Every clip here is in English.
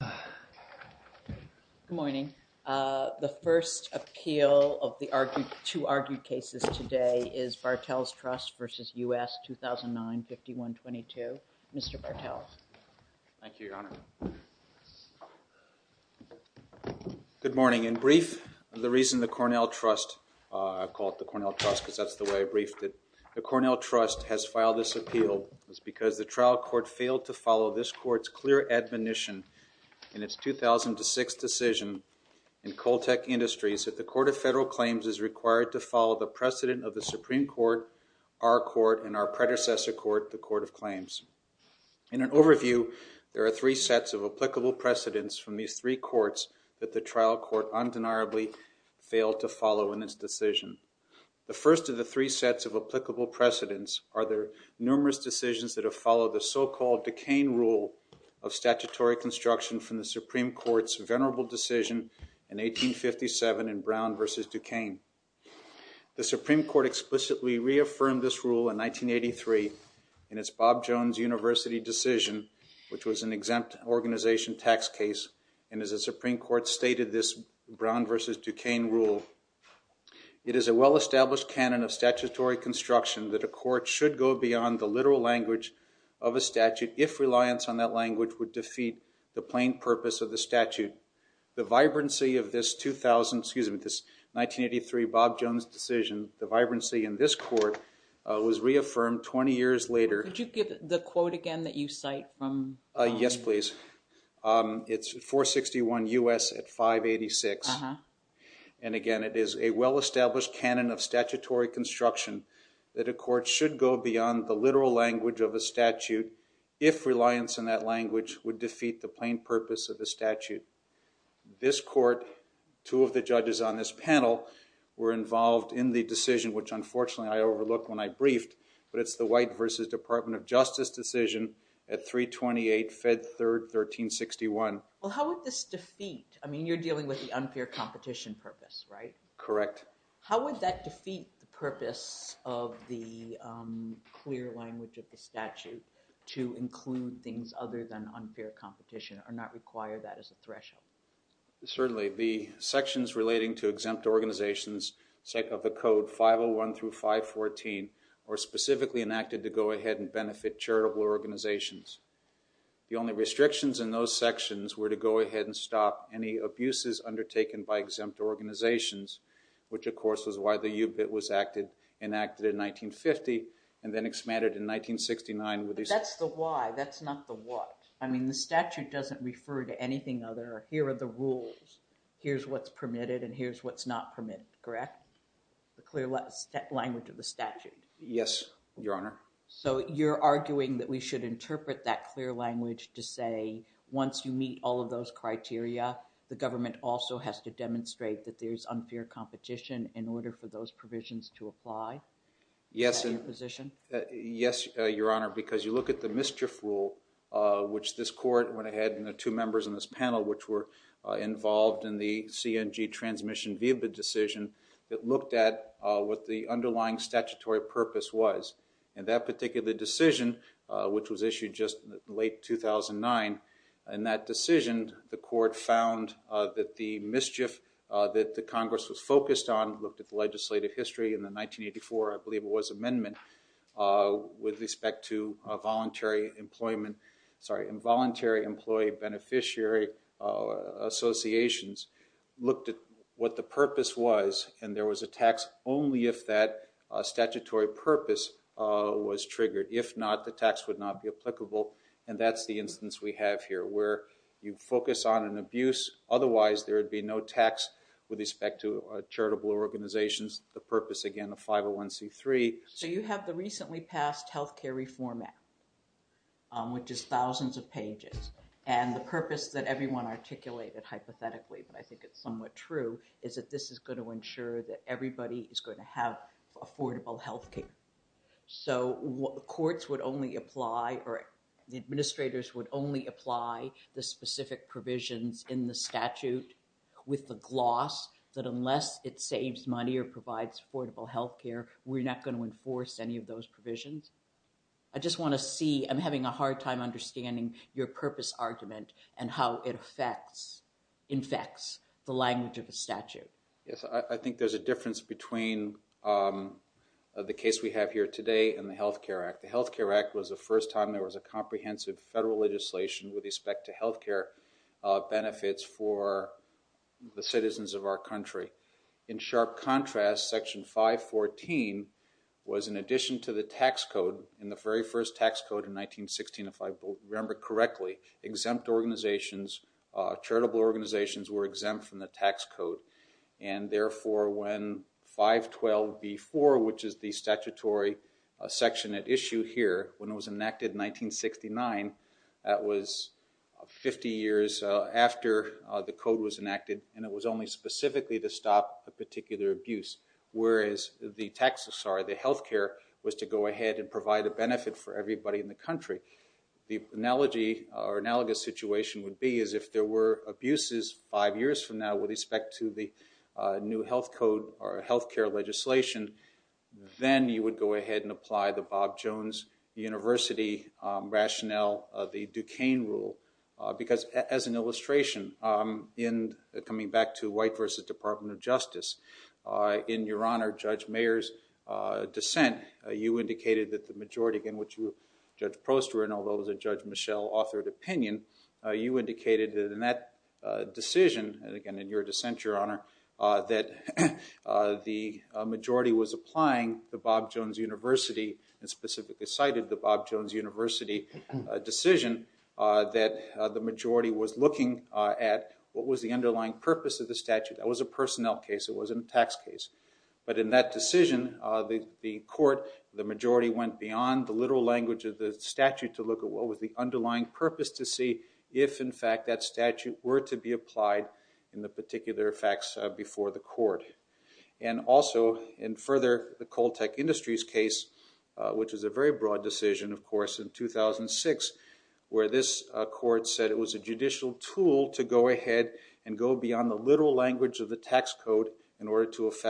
Good morning. The first appeal of the two argued cases today is Bartels Trust v. U.S. 2009-5122. Mr. Bartels. Thank you, Your Honor. Good morning. In brief, the reason the Cornell Trust, I call it the Cornell Trust because that's the way I briefed it, the Cornell Trust has filed this appeal was because the trial court failed to follow this court's clear admonition in its 2006 decision in Coltec Industries that the Court of Federal Claims is required to follow the precedent of the Supreme Court, our court, and our predecessor court, the Court of Claims. In an overview, there are three sets of applicable precedents from these three courts that the trial court undeniably failed to follow in its decision. The first of the three sets of applicable precedents are their numerous decisions that have followed the so-called Duquesne rule of statutory construction from the Supreme Court's venerable decision in 1857 in Brown v. Duquesne. The Supreme Court explicitly reaffirmed this rule in 1983 in its Bob Jones University decision, which was an exempt organization tax case, and as the Supreme Court stated this Brown v. Duquesne rule, it is a well-established canon of statutory construction that a court should go beyond the literal language of a statute if reliance on that language would defeat the plain purpose of the statute. The vibrancy of this 2000, excuse me, this 1983 Bob Jones decision, the vibrancy in this court was reaffirmed 20 years later. Could you give the quote again that you cite from? Yes, please. It's 461 U.S. at 586 and again it is a well-established canon of statutory construction that a court should go beyond the literal language of a statute if reliance on that language would defeat the plain purpose of the statute. This court, two of the judges on this panel, were involved in the decision which unfortunately I overlooked when I briefed, but it's the White v. Department of Justice decision at 328 Fed 3rd 1361. Well how would this defeat, I mean you're dealing with the unfair competition purpose, right? Correct. How would that defeat the purpose of the clear language of the statute to include things other than unfair competition or not require that as a threshold? Certainly, the sections relating to exempt organizations of the code 501 through 514 were specifically enacted to go ahead and benefit charitable organizations. The only restrictions in those sections were to go ahead and stop any abuses undertaken by exempt organizations, which of course was why the UBIT was enacted in 1950 and then expanded in 1969. That's the why, that's not the what. I mean the statute doesn't refer to anything other. Here are the rules, here's what's permitted, and here's what's not permitted, correct? The clear language of the statute. Yes, Your Honor. So you're arguing that we should interpret that clear language to meet all of those criteria, the government also has to demonstrate that there's unfair competition in order for those provisions to apply? Yes, Your Honor, because you look at the mischief rule which this court went ahead and the two members in this panel which were involved in the CNG transmission via the decision that looked at what the underlying statutory purpose was. And that particular decision, which was issued just late 2009, and that decision the court found that the mischief that the Congress was focused on, looked at the legislative history in the 1984, I believe it was amendment, with respect to voluntary employment, sorry, involuntary employee beneficiary associations, looked at what the purpose was and there was a tax only if that statutory purpose was triggered. If not, the tax would not be applicable and that's the instance we have here, where you focus on an abuse, otherwise there would be no tax with respect to charitable organizations, the purpose again of 501c3. So you have the recently passed health care reform act, which is thousands of pages, and the purpose that everyone articulated hypothetically, but I think it's somewhat true, is that this is going to ensure that everybody is going to have affordable health care. So what the courts would only apply or the administrators would only apply the specific provisions in the statute with the gloss that unless it saves money or provides affordable health care, we're not going to enforce any of those provisions. I just want to see, I'm having a hard time understanding your purpose argument and how it affects, infects the statute. Yes, I think there's a difference between the case we have here today and the Health Care Act. The Health Care Act was the first time there was a comprehensive federal legislation with respect to health care benefits for the citizens of our country. In sharp contrast, section 514 was in addition to the tax code, in the very first tax code in 1916, if I remember correctly, exempt organizations, charitable organizations were exempt from the tax code and therefore when 512b4, which is the statutory section at issue here, when it was enacted in 1969, that was 50 years after the code was enacted and it was only specifically to stop a particular abuse, whereas the tax, sorry, the health care was to go ahead and provide a benefit for everybody in the country. The analogy or analogous situation would be is if there were abuses five years from now with respect to the new health code or health care legislation, then you would go ahead and apply the Bob Jones University rationale of the Duquesne rule, because as an illustration, in coming back to White v. Department of Justice, in Your Honor, Judge Mayer's dissent, you indicated that the majority again, which you, Judge Prost, were in, although it was a Judge Michel authored opinion, you indicated that in that decision, and again in your dissent, Your Honor, that the majority was applying the Bob Jones University and specifically cited the Bob Jones University decision, that the majority was looking at what was the underlying purpose of the statute. That was a personnel case, it wasn't a tax case, but in that decision, the court, the majority went beyond the literal language of the statute to look at what was the underlying purpose to see if, in fact, that statute were to be applied in the particular effects before the court. And also, and further, the Coltec Industries case, which is a very broad decision, of course, in 2006, where this court said it was a judicial tool to go ahead and go beyond the literal language of the tax code in order to apply it. And this is a case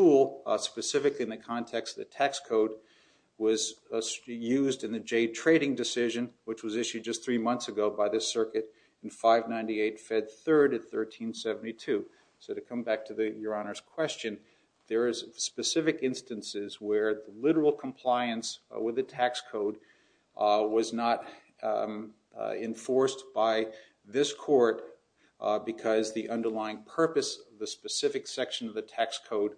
where, basically, in the context of the tax code, was used in the Jade Trading decision, which was issued just three months ago by the circuit in 598 Fed 3rd at 1372. So to come back to the Your Honor's question, there is specific instances where literal compliance with the tax code was not enforced by this court because the underlying purpose, the specific section of the tax code,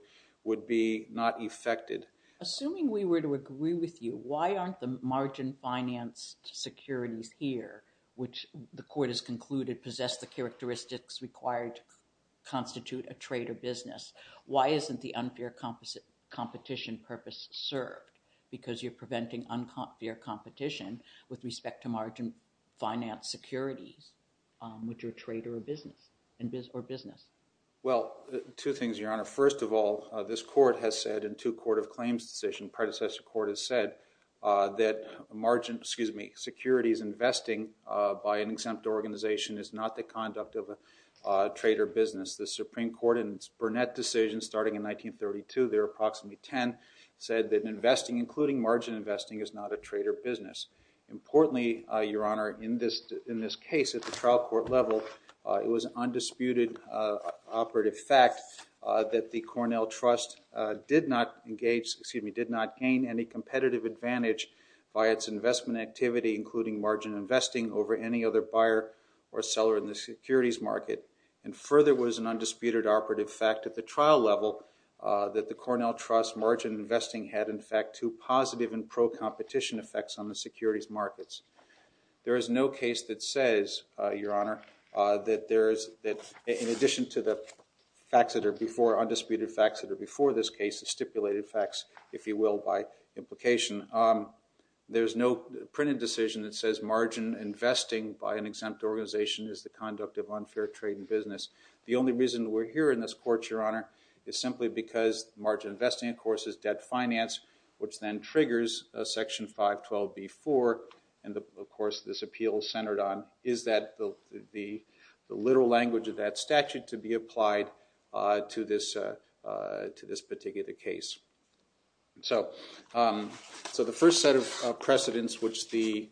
would be not effected. Assuming we were to agree with you, why aren't the margin finance securities here, which the court has concluded possess the characteristics required to constitute a trade or business, why isn't the unfair competition purpose served? Because you're preventing unfair competition with respect to margin finance securities, which are trade or business. Well, two things, Your Honor. First of all, this court has said in two Court of Claims decisions, predecessor court has said that margin, excuse me, securities investing by an exempt organization is not the conduct of a trade or business. The Supreme Court in its Burnett decision starting in 1932, there are approximately 10, said that investing, including margin investing, is not a trade or business. Importantly, Your Honor, in this case at the trial level, it was undisputed operative fact that the Cornell Trust did not engage, excuse me, did not gain any competitive advantage by its investment activity, including margin investing, over any other buyer or seller in the securities market. And further was an undisputed operative fact at the trial level that the Cornell Trust margin investing had, in fact, two positive and pro-competition effects on the securities markets. There is no case that says, Your Honor, that there is, that in addition to the facts that are before, undisputed facts that are before this case, the stipulated facts, if you will, by implication. There's no printed decision that says margin investing by an exempt organization is the conduct of unfair trade and business. The only reason we're here in this court, Your Honor, is simply because margin investing, of course, is debt finance, which then triggers Section 512b4, and of course this appeal centered on, is that the literal language of that statute to be applied to this particular case. So the first set of precedents which the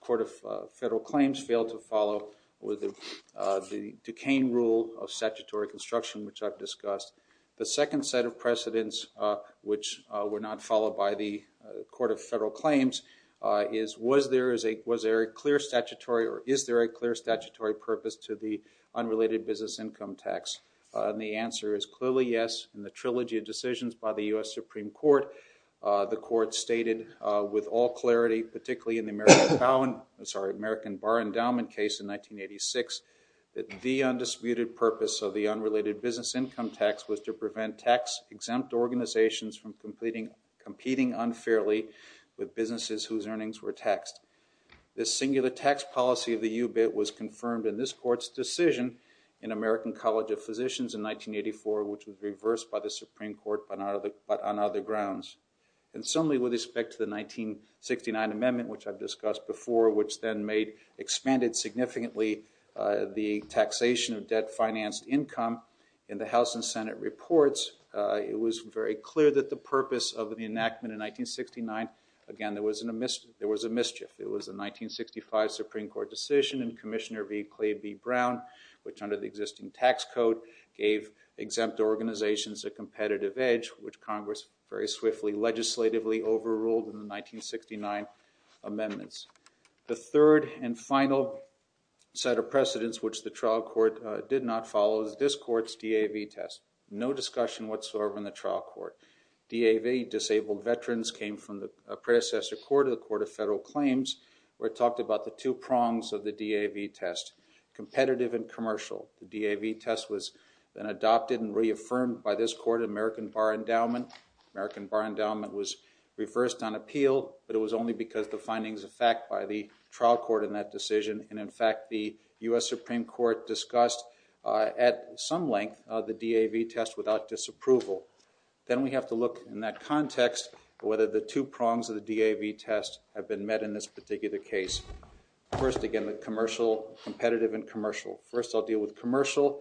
Court of Federal Claims failed to follow were the Duquesne rule of statutory construction, which I've discussed. The second set of precedents which were not followed by the Court of Federal Claims is, was there a clear statutory or is there a clear statutory purpose to the unrelated business income tax? And the answer is clearly yes. In the trilogy of decisions by the U.S. Supreme Court, the Court stated with all clarity, particularly in the American Bar Endowment case in 1986, that the undisputed purpose of the unrelated business income tax was to prevent tax exempt organizations from competing unfairly with businesses whose earnings were taxed. This singular tax policy of the UBIT was confirmed in this Court's decision in American College of Physicians in 1984, which was reversed by the Supreme Court on other grounds. And similarly with respect to the 1969 amendment, which I've discussed before, which then made, expanded significantly the taxation of debt financed income in the House and Senate reports, it was very clear that the purpose of the enactment in 1969, again there was a mischief. It was a 1965 Supreme Court decision and Commissioner V. Clay B. Brown, which under the existing tax code, gave exempt organizations a competitive edge, which Congress very swiftly legislatively overruled in the 1969 amendments. The third and final set of precedents which the trial court did not follow is this Court's DAV test. No discussion whatsoever in the trial court. DAV, Disabled Veterans, came from the predecessor court, the Court of Federal Claims, where it talked about the two prongs of the DAV test, competitive and commercial. The DAV test was then adopted and reaffirmed by this court, American Bar Endowment. American Bar Endowment was reversed on appeal, but it was only because the findings of fact by the trial court in that decision, and in fact the US Supreme Court discussed at some length the DAV test without disapproval. Then we have to look in that context whether the two prongs of the DAV test have been met in this particular case. First again, the commercial, competitive and commercial. First I'll deal with commercial.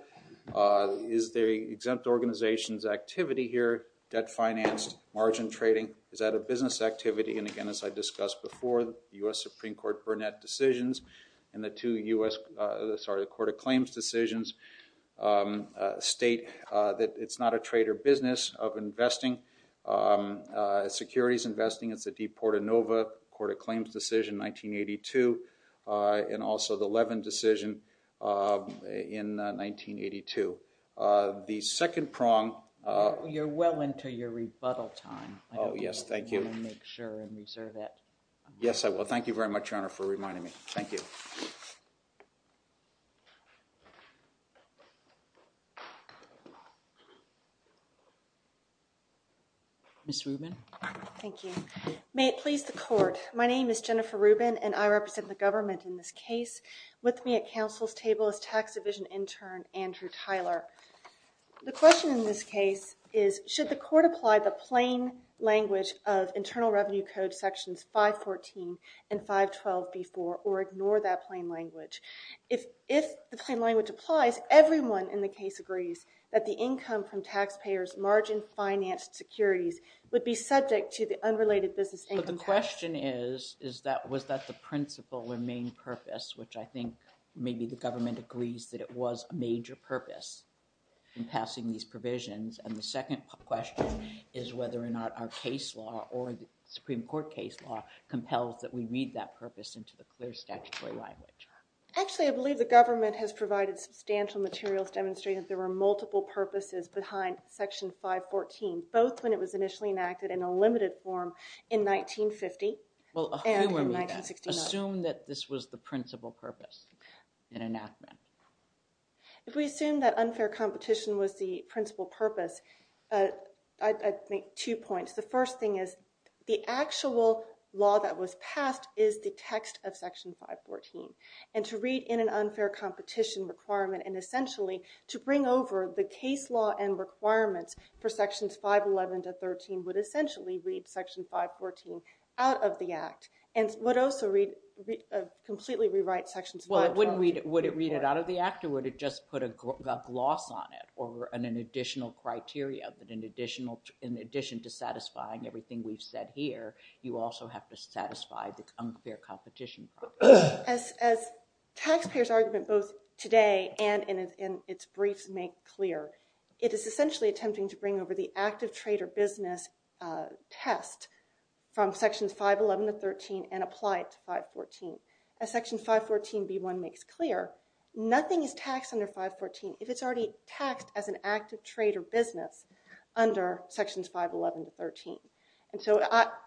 Is the exempt organization's activity here debt-financed, margin trading? Is that a business activity? And again, as I discussed before, the US Supreme Court Burnett decisions and the two US, sorry, the Court of Claims decisions state that it's not a trade or business of investing. Securities investing, it's a De Porta Nova, Court of Claims decision, 1982, and also the Levin decision in 1982. The second prong... You're well into your rebuttal time. Oh yes, thank you. Make sure and reserve it. Yes, I will. Thank you very much, Your Honor, for your time. Ms. Rubin. Thank you. May it please the Court, my name is Jennifer Rubin and I represent the government in this case. With me at counsel's table is tax division intern Andrew Tyler. The question in this case is, should the court apply the plain language of Internal Revenue Code sections 514 and 512B4 or ignore that plain language? If the plain language applies, everyone in the case agrees that the income from taxpayers' margin-financed securities would be subject to the unrelated business income tax. But the question is, is that, was that the principal or main purpose, which I think maybe the government agrees that it was a major purpose in passing these provisions. And the second question is whether or not our case law or the Supreme Court case law compels that we read that purpose into the clear statutory language. Actually, I believe the government has provided substantial materials demonstrating that there were multiple purposes behind section 514, both when it was initially enacted in a limited form in 1950 and in 1969. Assume that this was the principal purpose in enactment. If we assume that unfair competition was the principal purpose, I'd make two points. The first thing is, the actual law that was passed is the text of section 514. And to read in an unfair competition requirement and essentially to bring over the case law and requirements for sections 511 to 513 would essentially read section 514 out of the Act and would also completely rewrite sections 512. Well, would it read it out of the Act or would it just put a gloss on it or an additional criteria that in addition to satisfying everything we've said here, you also have to satisfy the unfair competition? As taxpayers' argument both today and in its briefs make clear, it is essentially attempting to bring over the active trade or business test from sections 511 to 513 and apply it to 514. As section 514b1 makes clear, nothing is taxed under 514. If it's already taxed as an active trade or business under sections 511 to 513. And so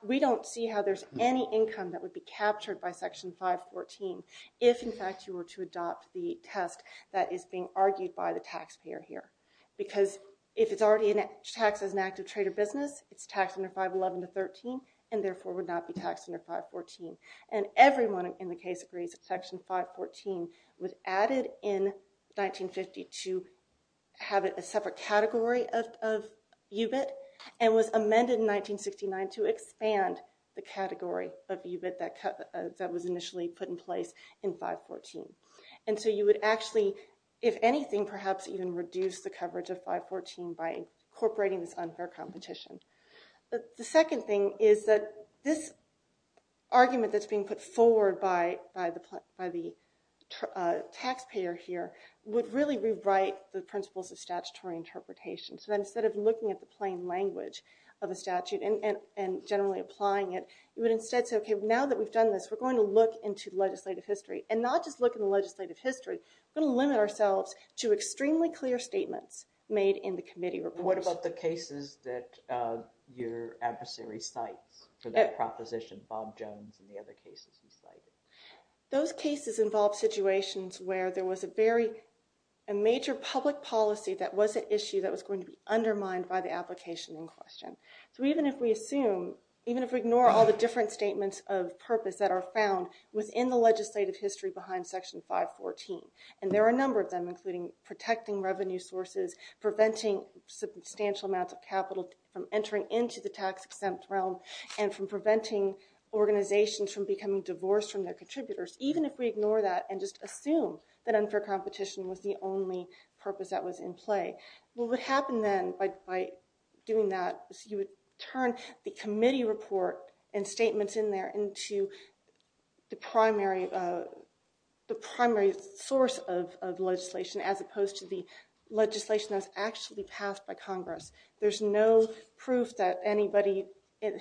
we don't see how there's any income that would be captured by section 514 if in fact you were to adopt the test that is being argued by the taxpayer here. Because if it's already taxed as an active trade or business, it's taxed under 511 to 513 and therefore would not be taxed under 514. And everyone in the case agrees that section 514 was added in 1950 to have it a separate category of UBIT and was amended in 1969 to expand the category of UBIT that was initially put in place in 514. And so you would actually, if anything, perhaps even reduce the coverage of 514 by incorporating this unfair competition. The second thing is that this argument that's being put forward by the taxpayer here would really rewrite the principles of statutory interpretation. So instead of looking at the plain language of a statute and generally applying it, you would instead say, okay, now that we've done this, we're going to look into legislative history. And not just look at the legislative history, we're going to limit ourselves to extremely clear statements made in the committee report. What about the proposition Bob Jones and the other cases you cited? Those cases involve situations where there was a very major public policy that was an issue that was going to be undermined by the application in question. So even if we assume, even if we ignore all the different statements of purpose that are found within the legislative history behind section 514, and there are a number of them including protecting revenue sources, preventing substantial amounts of capital from entering into the tax-exempt realm, and from preventing organizations from becoming divorced from their contributors, even if we ignore that and just assume that unfair competition was the only purpose that was in play, what would happen then by doing that is you would turn the committee report and statements in there into the primary source of legislation as opposed to the legislation that was actually passed by the legislature. There's no proof that anybody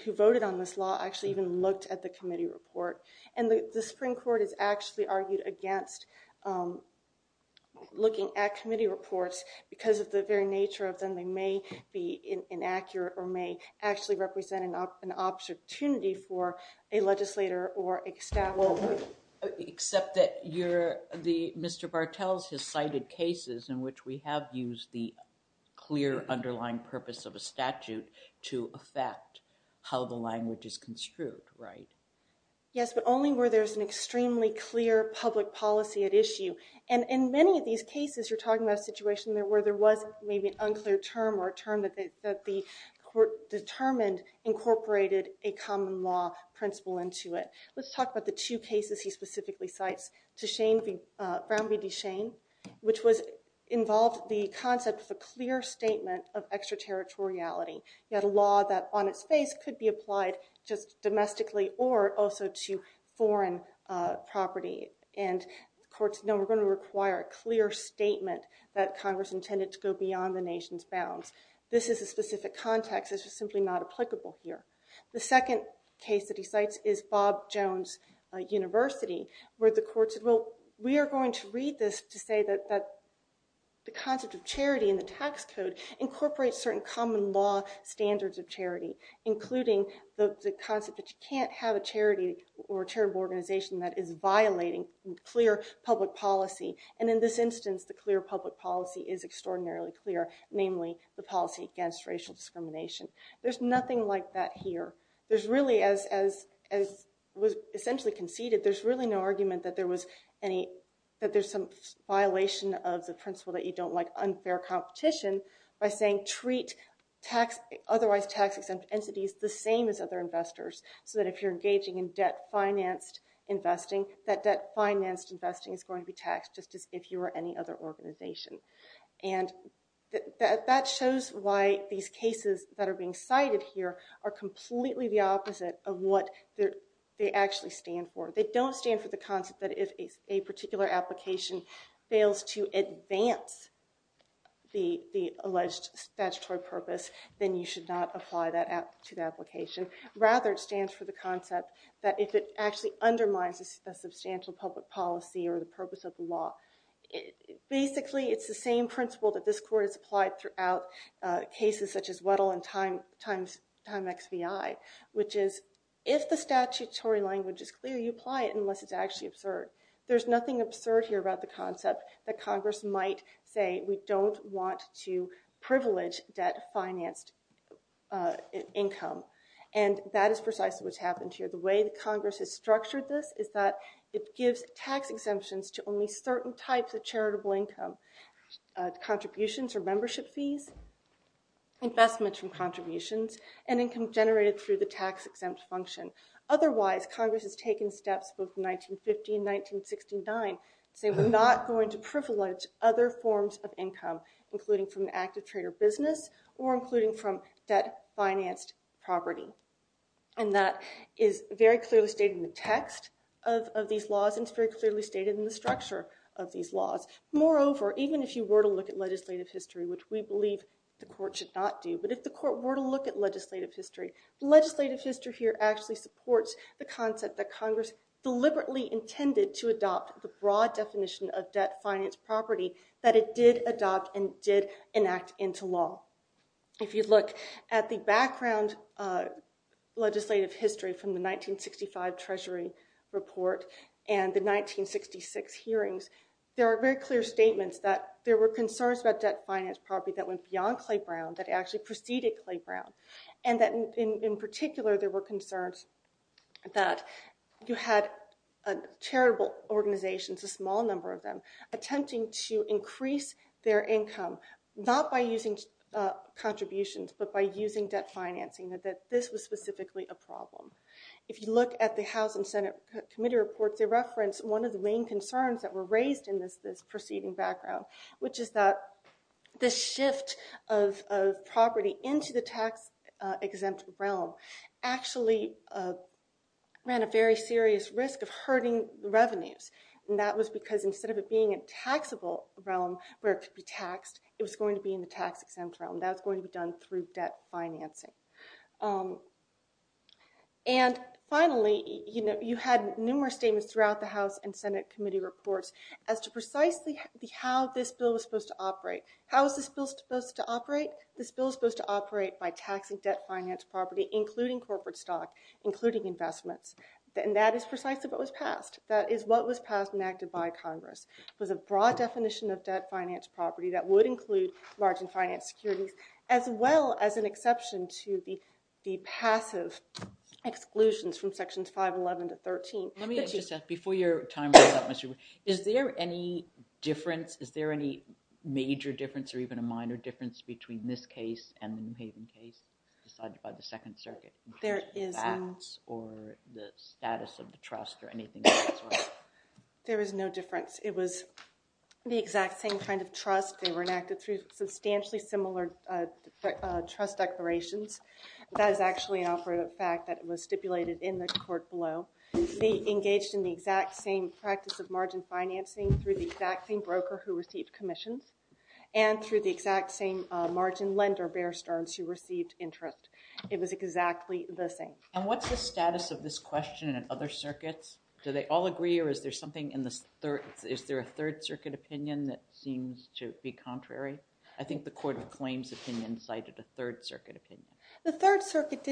who voted on this law actually even looked at the committee report. And the Supreme Court has actually argued against looking at committee reports because of the very nature of them. They may be inaccurate or may actually represent an opportunity for a legislator or a staff member. Except that Mr. Bartels has cited cases in which we have used the clear underlying purpose of a statute to affect how the language is construed, right? Yes, but only where there's an extremely clear public policy at issue. And in many of these cases you're talking about a situation where there was maybe an unclear term or a term that the court determined incorporated a common law principle into it. Let's talk about the two cases he cited. First of all, the concept of a clear statement of extraterritoriality. You had a law that on its face could be applied just domestically or also to foreign property and the courts know we're going to require a clear statement that Congress intended to go beyond the nation's bounds. This is a specific context. This is simply not applicable here. The second case that he cites is Bob Jones University where the court said well we are going to read this to say that the concept of charity in the tax code incorporates certain common law standards of charity including the concept that you can't have a charity or charitable organization that is violating clear public policy and in this instance the clear public policy is extraordinarily clear, namely the policy against racial discrimination. There's nothing like that here. There's really as was essentially conceded there's really no argument that there was any that there's some violation of the principle that you don't like unfair competition by saying treat tax otherwise tax exempt entities the same as other investors so that if you're engaging in debt financed investing that debt financed investing is going to be taxed just as if you were any other organization and that shows why these cases that are being cited here are completely the opposite of what they actually stand for. They don't stand for the concept that if a particular application fails to advance the alleged statutory purpose then you should not apply that to the application. Rather it stands for the concept that if it actually undermines a substantial public policy or the purpose of the law basically it's the same principle that this court has applied throughout cases such as Weddell and Time XVI which is if the statutory language is clear you apply it unless it's actually absurd. There's nothing absurd here about the concept that Congress might say we don't want to privilege debt financed income and that is precisely what's happened here. The way the Congress has structured this is that it gives tax exemptions to only certain types of investments from contributions and income generated through the tax exempt function. Otherwise Congress has taken steps both in 1950 and 1969 saying we're not going to privilege other forms of income including from active trader business or including from debt financed property and that is very clearly stated in the text of these laws and it's very clearly stated in the structure of these laws. Moreover even if you were to look at legislative history which we believe the court should not do but if the court were to look at legislative history, legislative history here actually supports the concept that Congress deliberately intended to adopt the broad definition of debt financed property that it did adopt and did enact into law. If you look at the background legislative history from the 1965 Treasury report and the 1966 hearings there are very clear statements that there were concerns about debt financed property that went beyond Clay Brown that actually preceded Clay Brown and that in particular there were concerns that you had a charitable organization, a small number of them attempting to increase their income not by using contributions but by using debt financing that this was specifically a problem. If you look at the House and Senate committee reports they reference one of the main concerns that were raised in this this preceding background which is that this shift of property into the tax exempt realm actually ran a very serious risk of hurting revenues and that was because instead of it being a taxable realm where it could be taxed it was going to be in the tax exempt realm that's going to be done through debt financing. And finally you know you had numerous statements throughout the House and Senate committee reports as to precisely how this bill was supposed to operate. How is this bill supposed to operate? This bill is supposed to operate by taxing debt financed property including corporate stock including investments and that is precisely what was passed. That is what was passed and enacted by Congress. It was a broad definition of debt financed property that would include large and finance securities as well as an exception to the passive exclusions from sections 511 to 13. Let me just ask before you're done. Is there any difference is there any major difference or even a minor difference between this case and the New Haven case decided by the Second Circuit? There isn't. Or the status of the trust or anything else? There is no difference. It was the exact same kind of trust. They were enacted through substantially similar trust declarations. That is actually an operative fact that was stipulated in the court below. They engaged in the exact same practice of margin financing through the exact same broker who received commissions and through the exact same margin lender Bear Stearns who received interest. It was exactly the same. And what's the status of this question and other circuits? Do they all agree or is there something in this third is there a third circuit opinion that seems to be contrary? I think the Court of Claims cited a third circuit opinion. The third circuit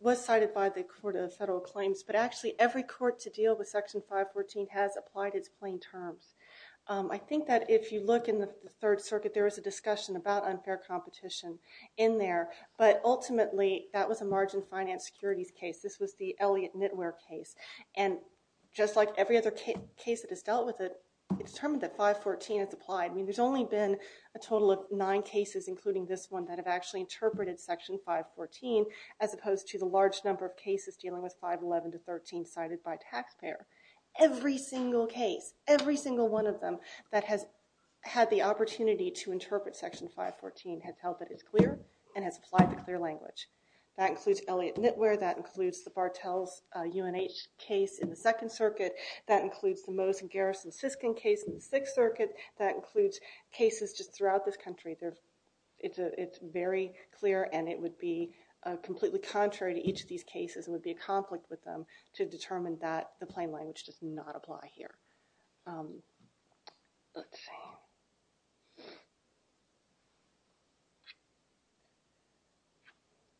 was cited by the Court of Federal Claims but actually every court to deal with section 514 has applied its plain terms. I think that if you look in the Third Circuit there was a discussion about unfair competition in there but ultimately that was a margin finance securities case. This was the Elliott-Knitwear case and just like every other case that has dealt with it, it's determined that 514 has applied. I mean there's only been a total of nine cases including this one that have actually interpreted section 514 as opposed to the large number of cases dealing with 511 to 513 cited by taxpayer. Every single case, every single one of them that has had the opportunity to interpret section 514 has held that it's clear and has applied the clear language. That includes Elliott-Knitwear, that includes the Bartels-UNH case in the Second Circuit, that includes the cases just throughout this country. It's very clear and it would be completely contrary to each of these cases and would be a conflict with them to determine that the plain language does not apply here.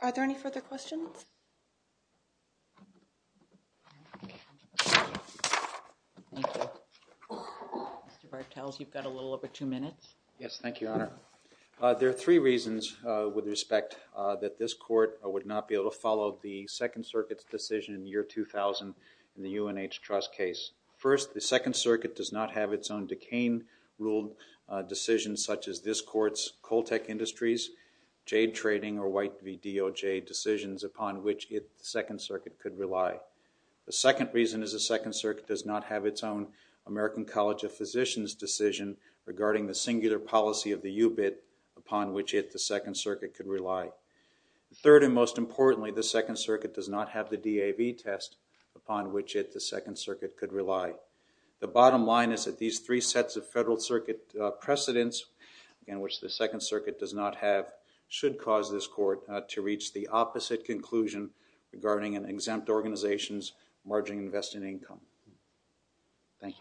Are there any further questions? Mr. Bartels, you've got a little over two minutes. Yes, thank you, Your Honor. There are three reasons with respect that this court would not be able to follow the Second Circuit's decision in the year 2000 in the UNH trust case. First, the Second Circuit does not have its own decaying rule decisions such as this court's which it, the Second Circuit, could rely. The second reason is the Second Circuit does not have its own American College of Physicians decision regarding the singular policy of the UBIT upon which it, the Second Circuit, could rely. Third and most importantly, the Second Circuit does not have the DAV test upon which it, the Second Circuit, could rely. The bottom line is that these three sets of Federal Circuit precedents in which the Second Circuit does not have should cause this court to reach the opposite conclusion regarding an exempt organization's margin invested income. Thank you.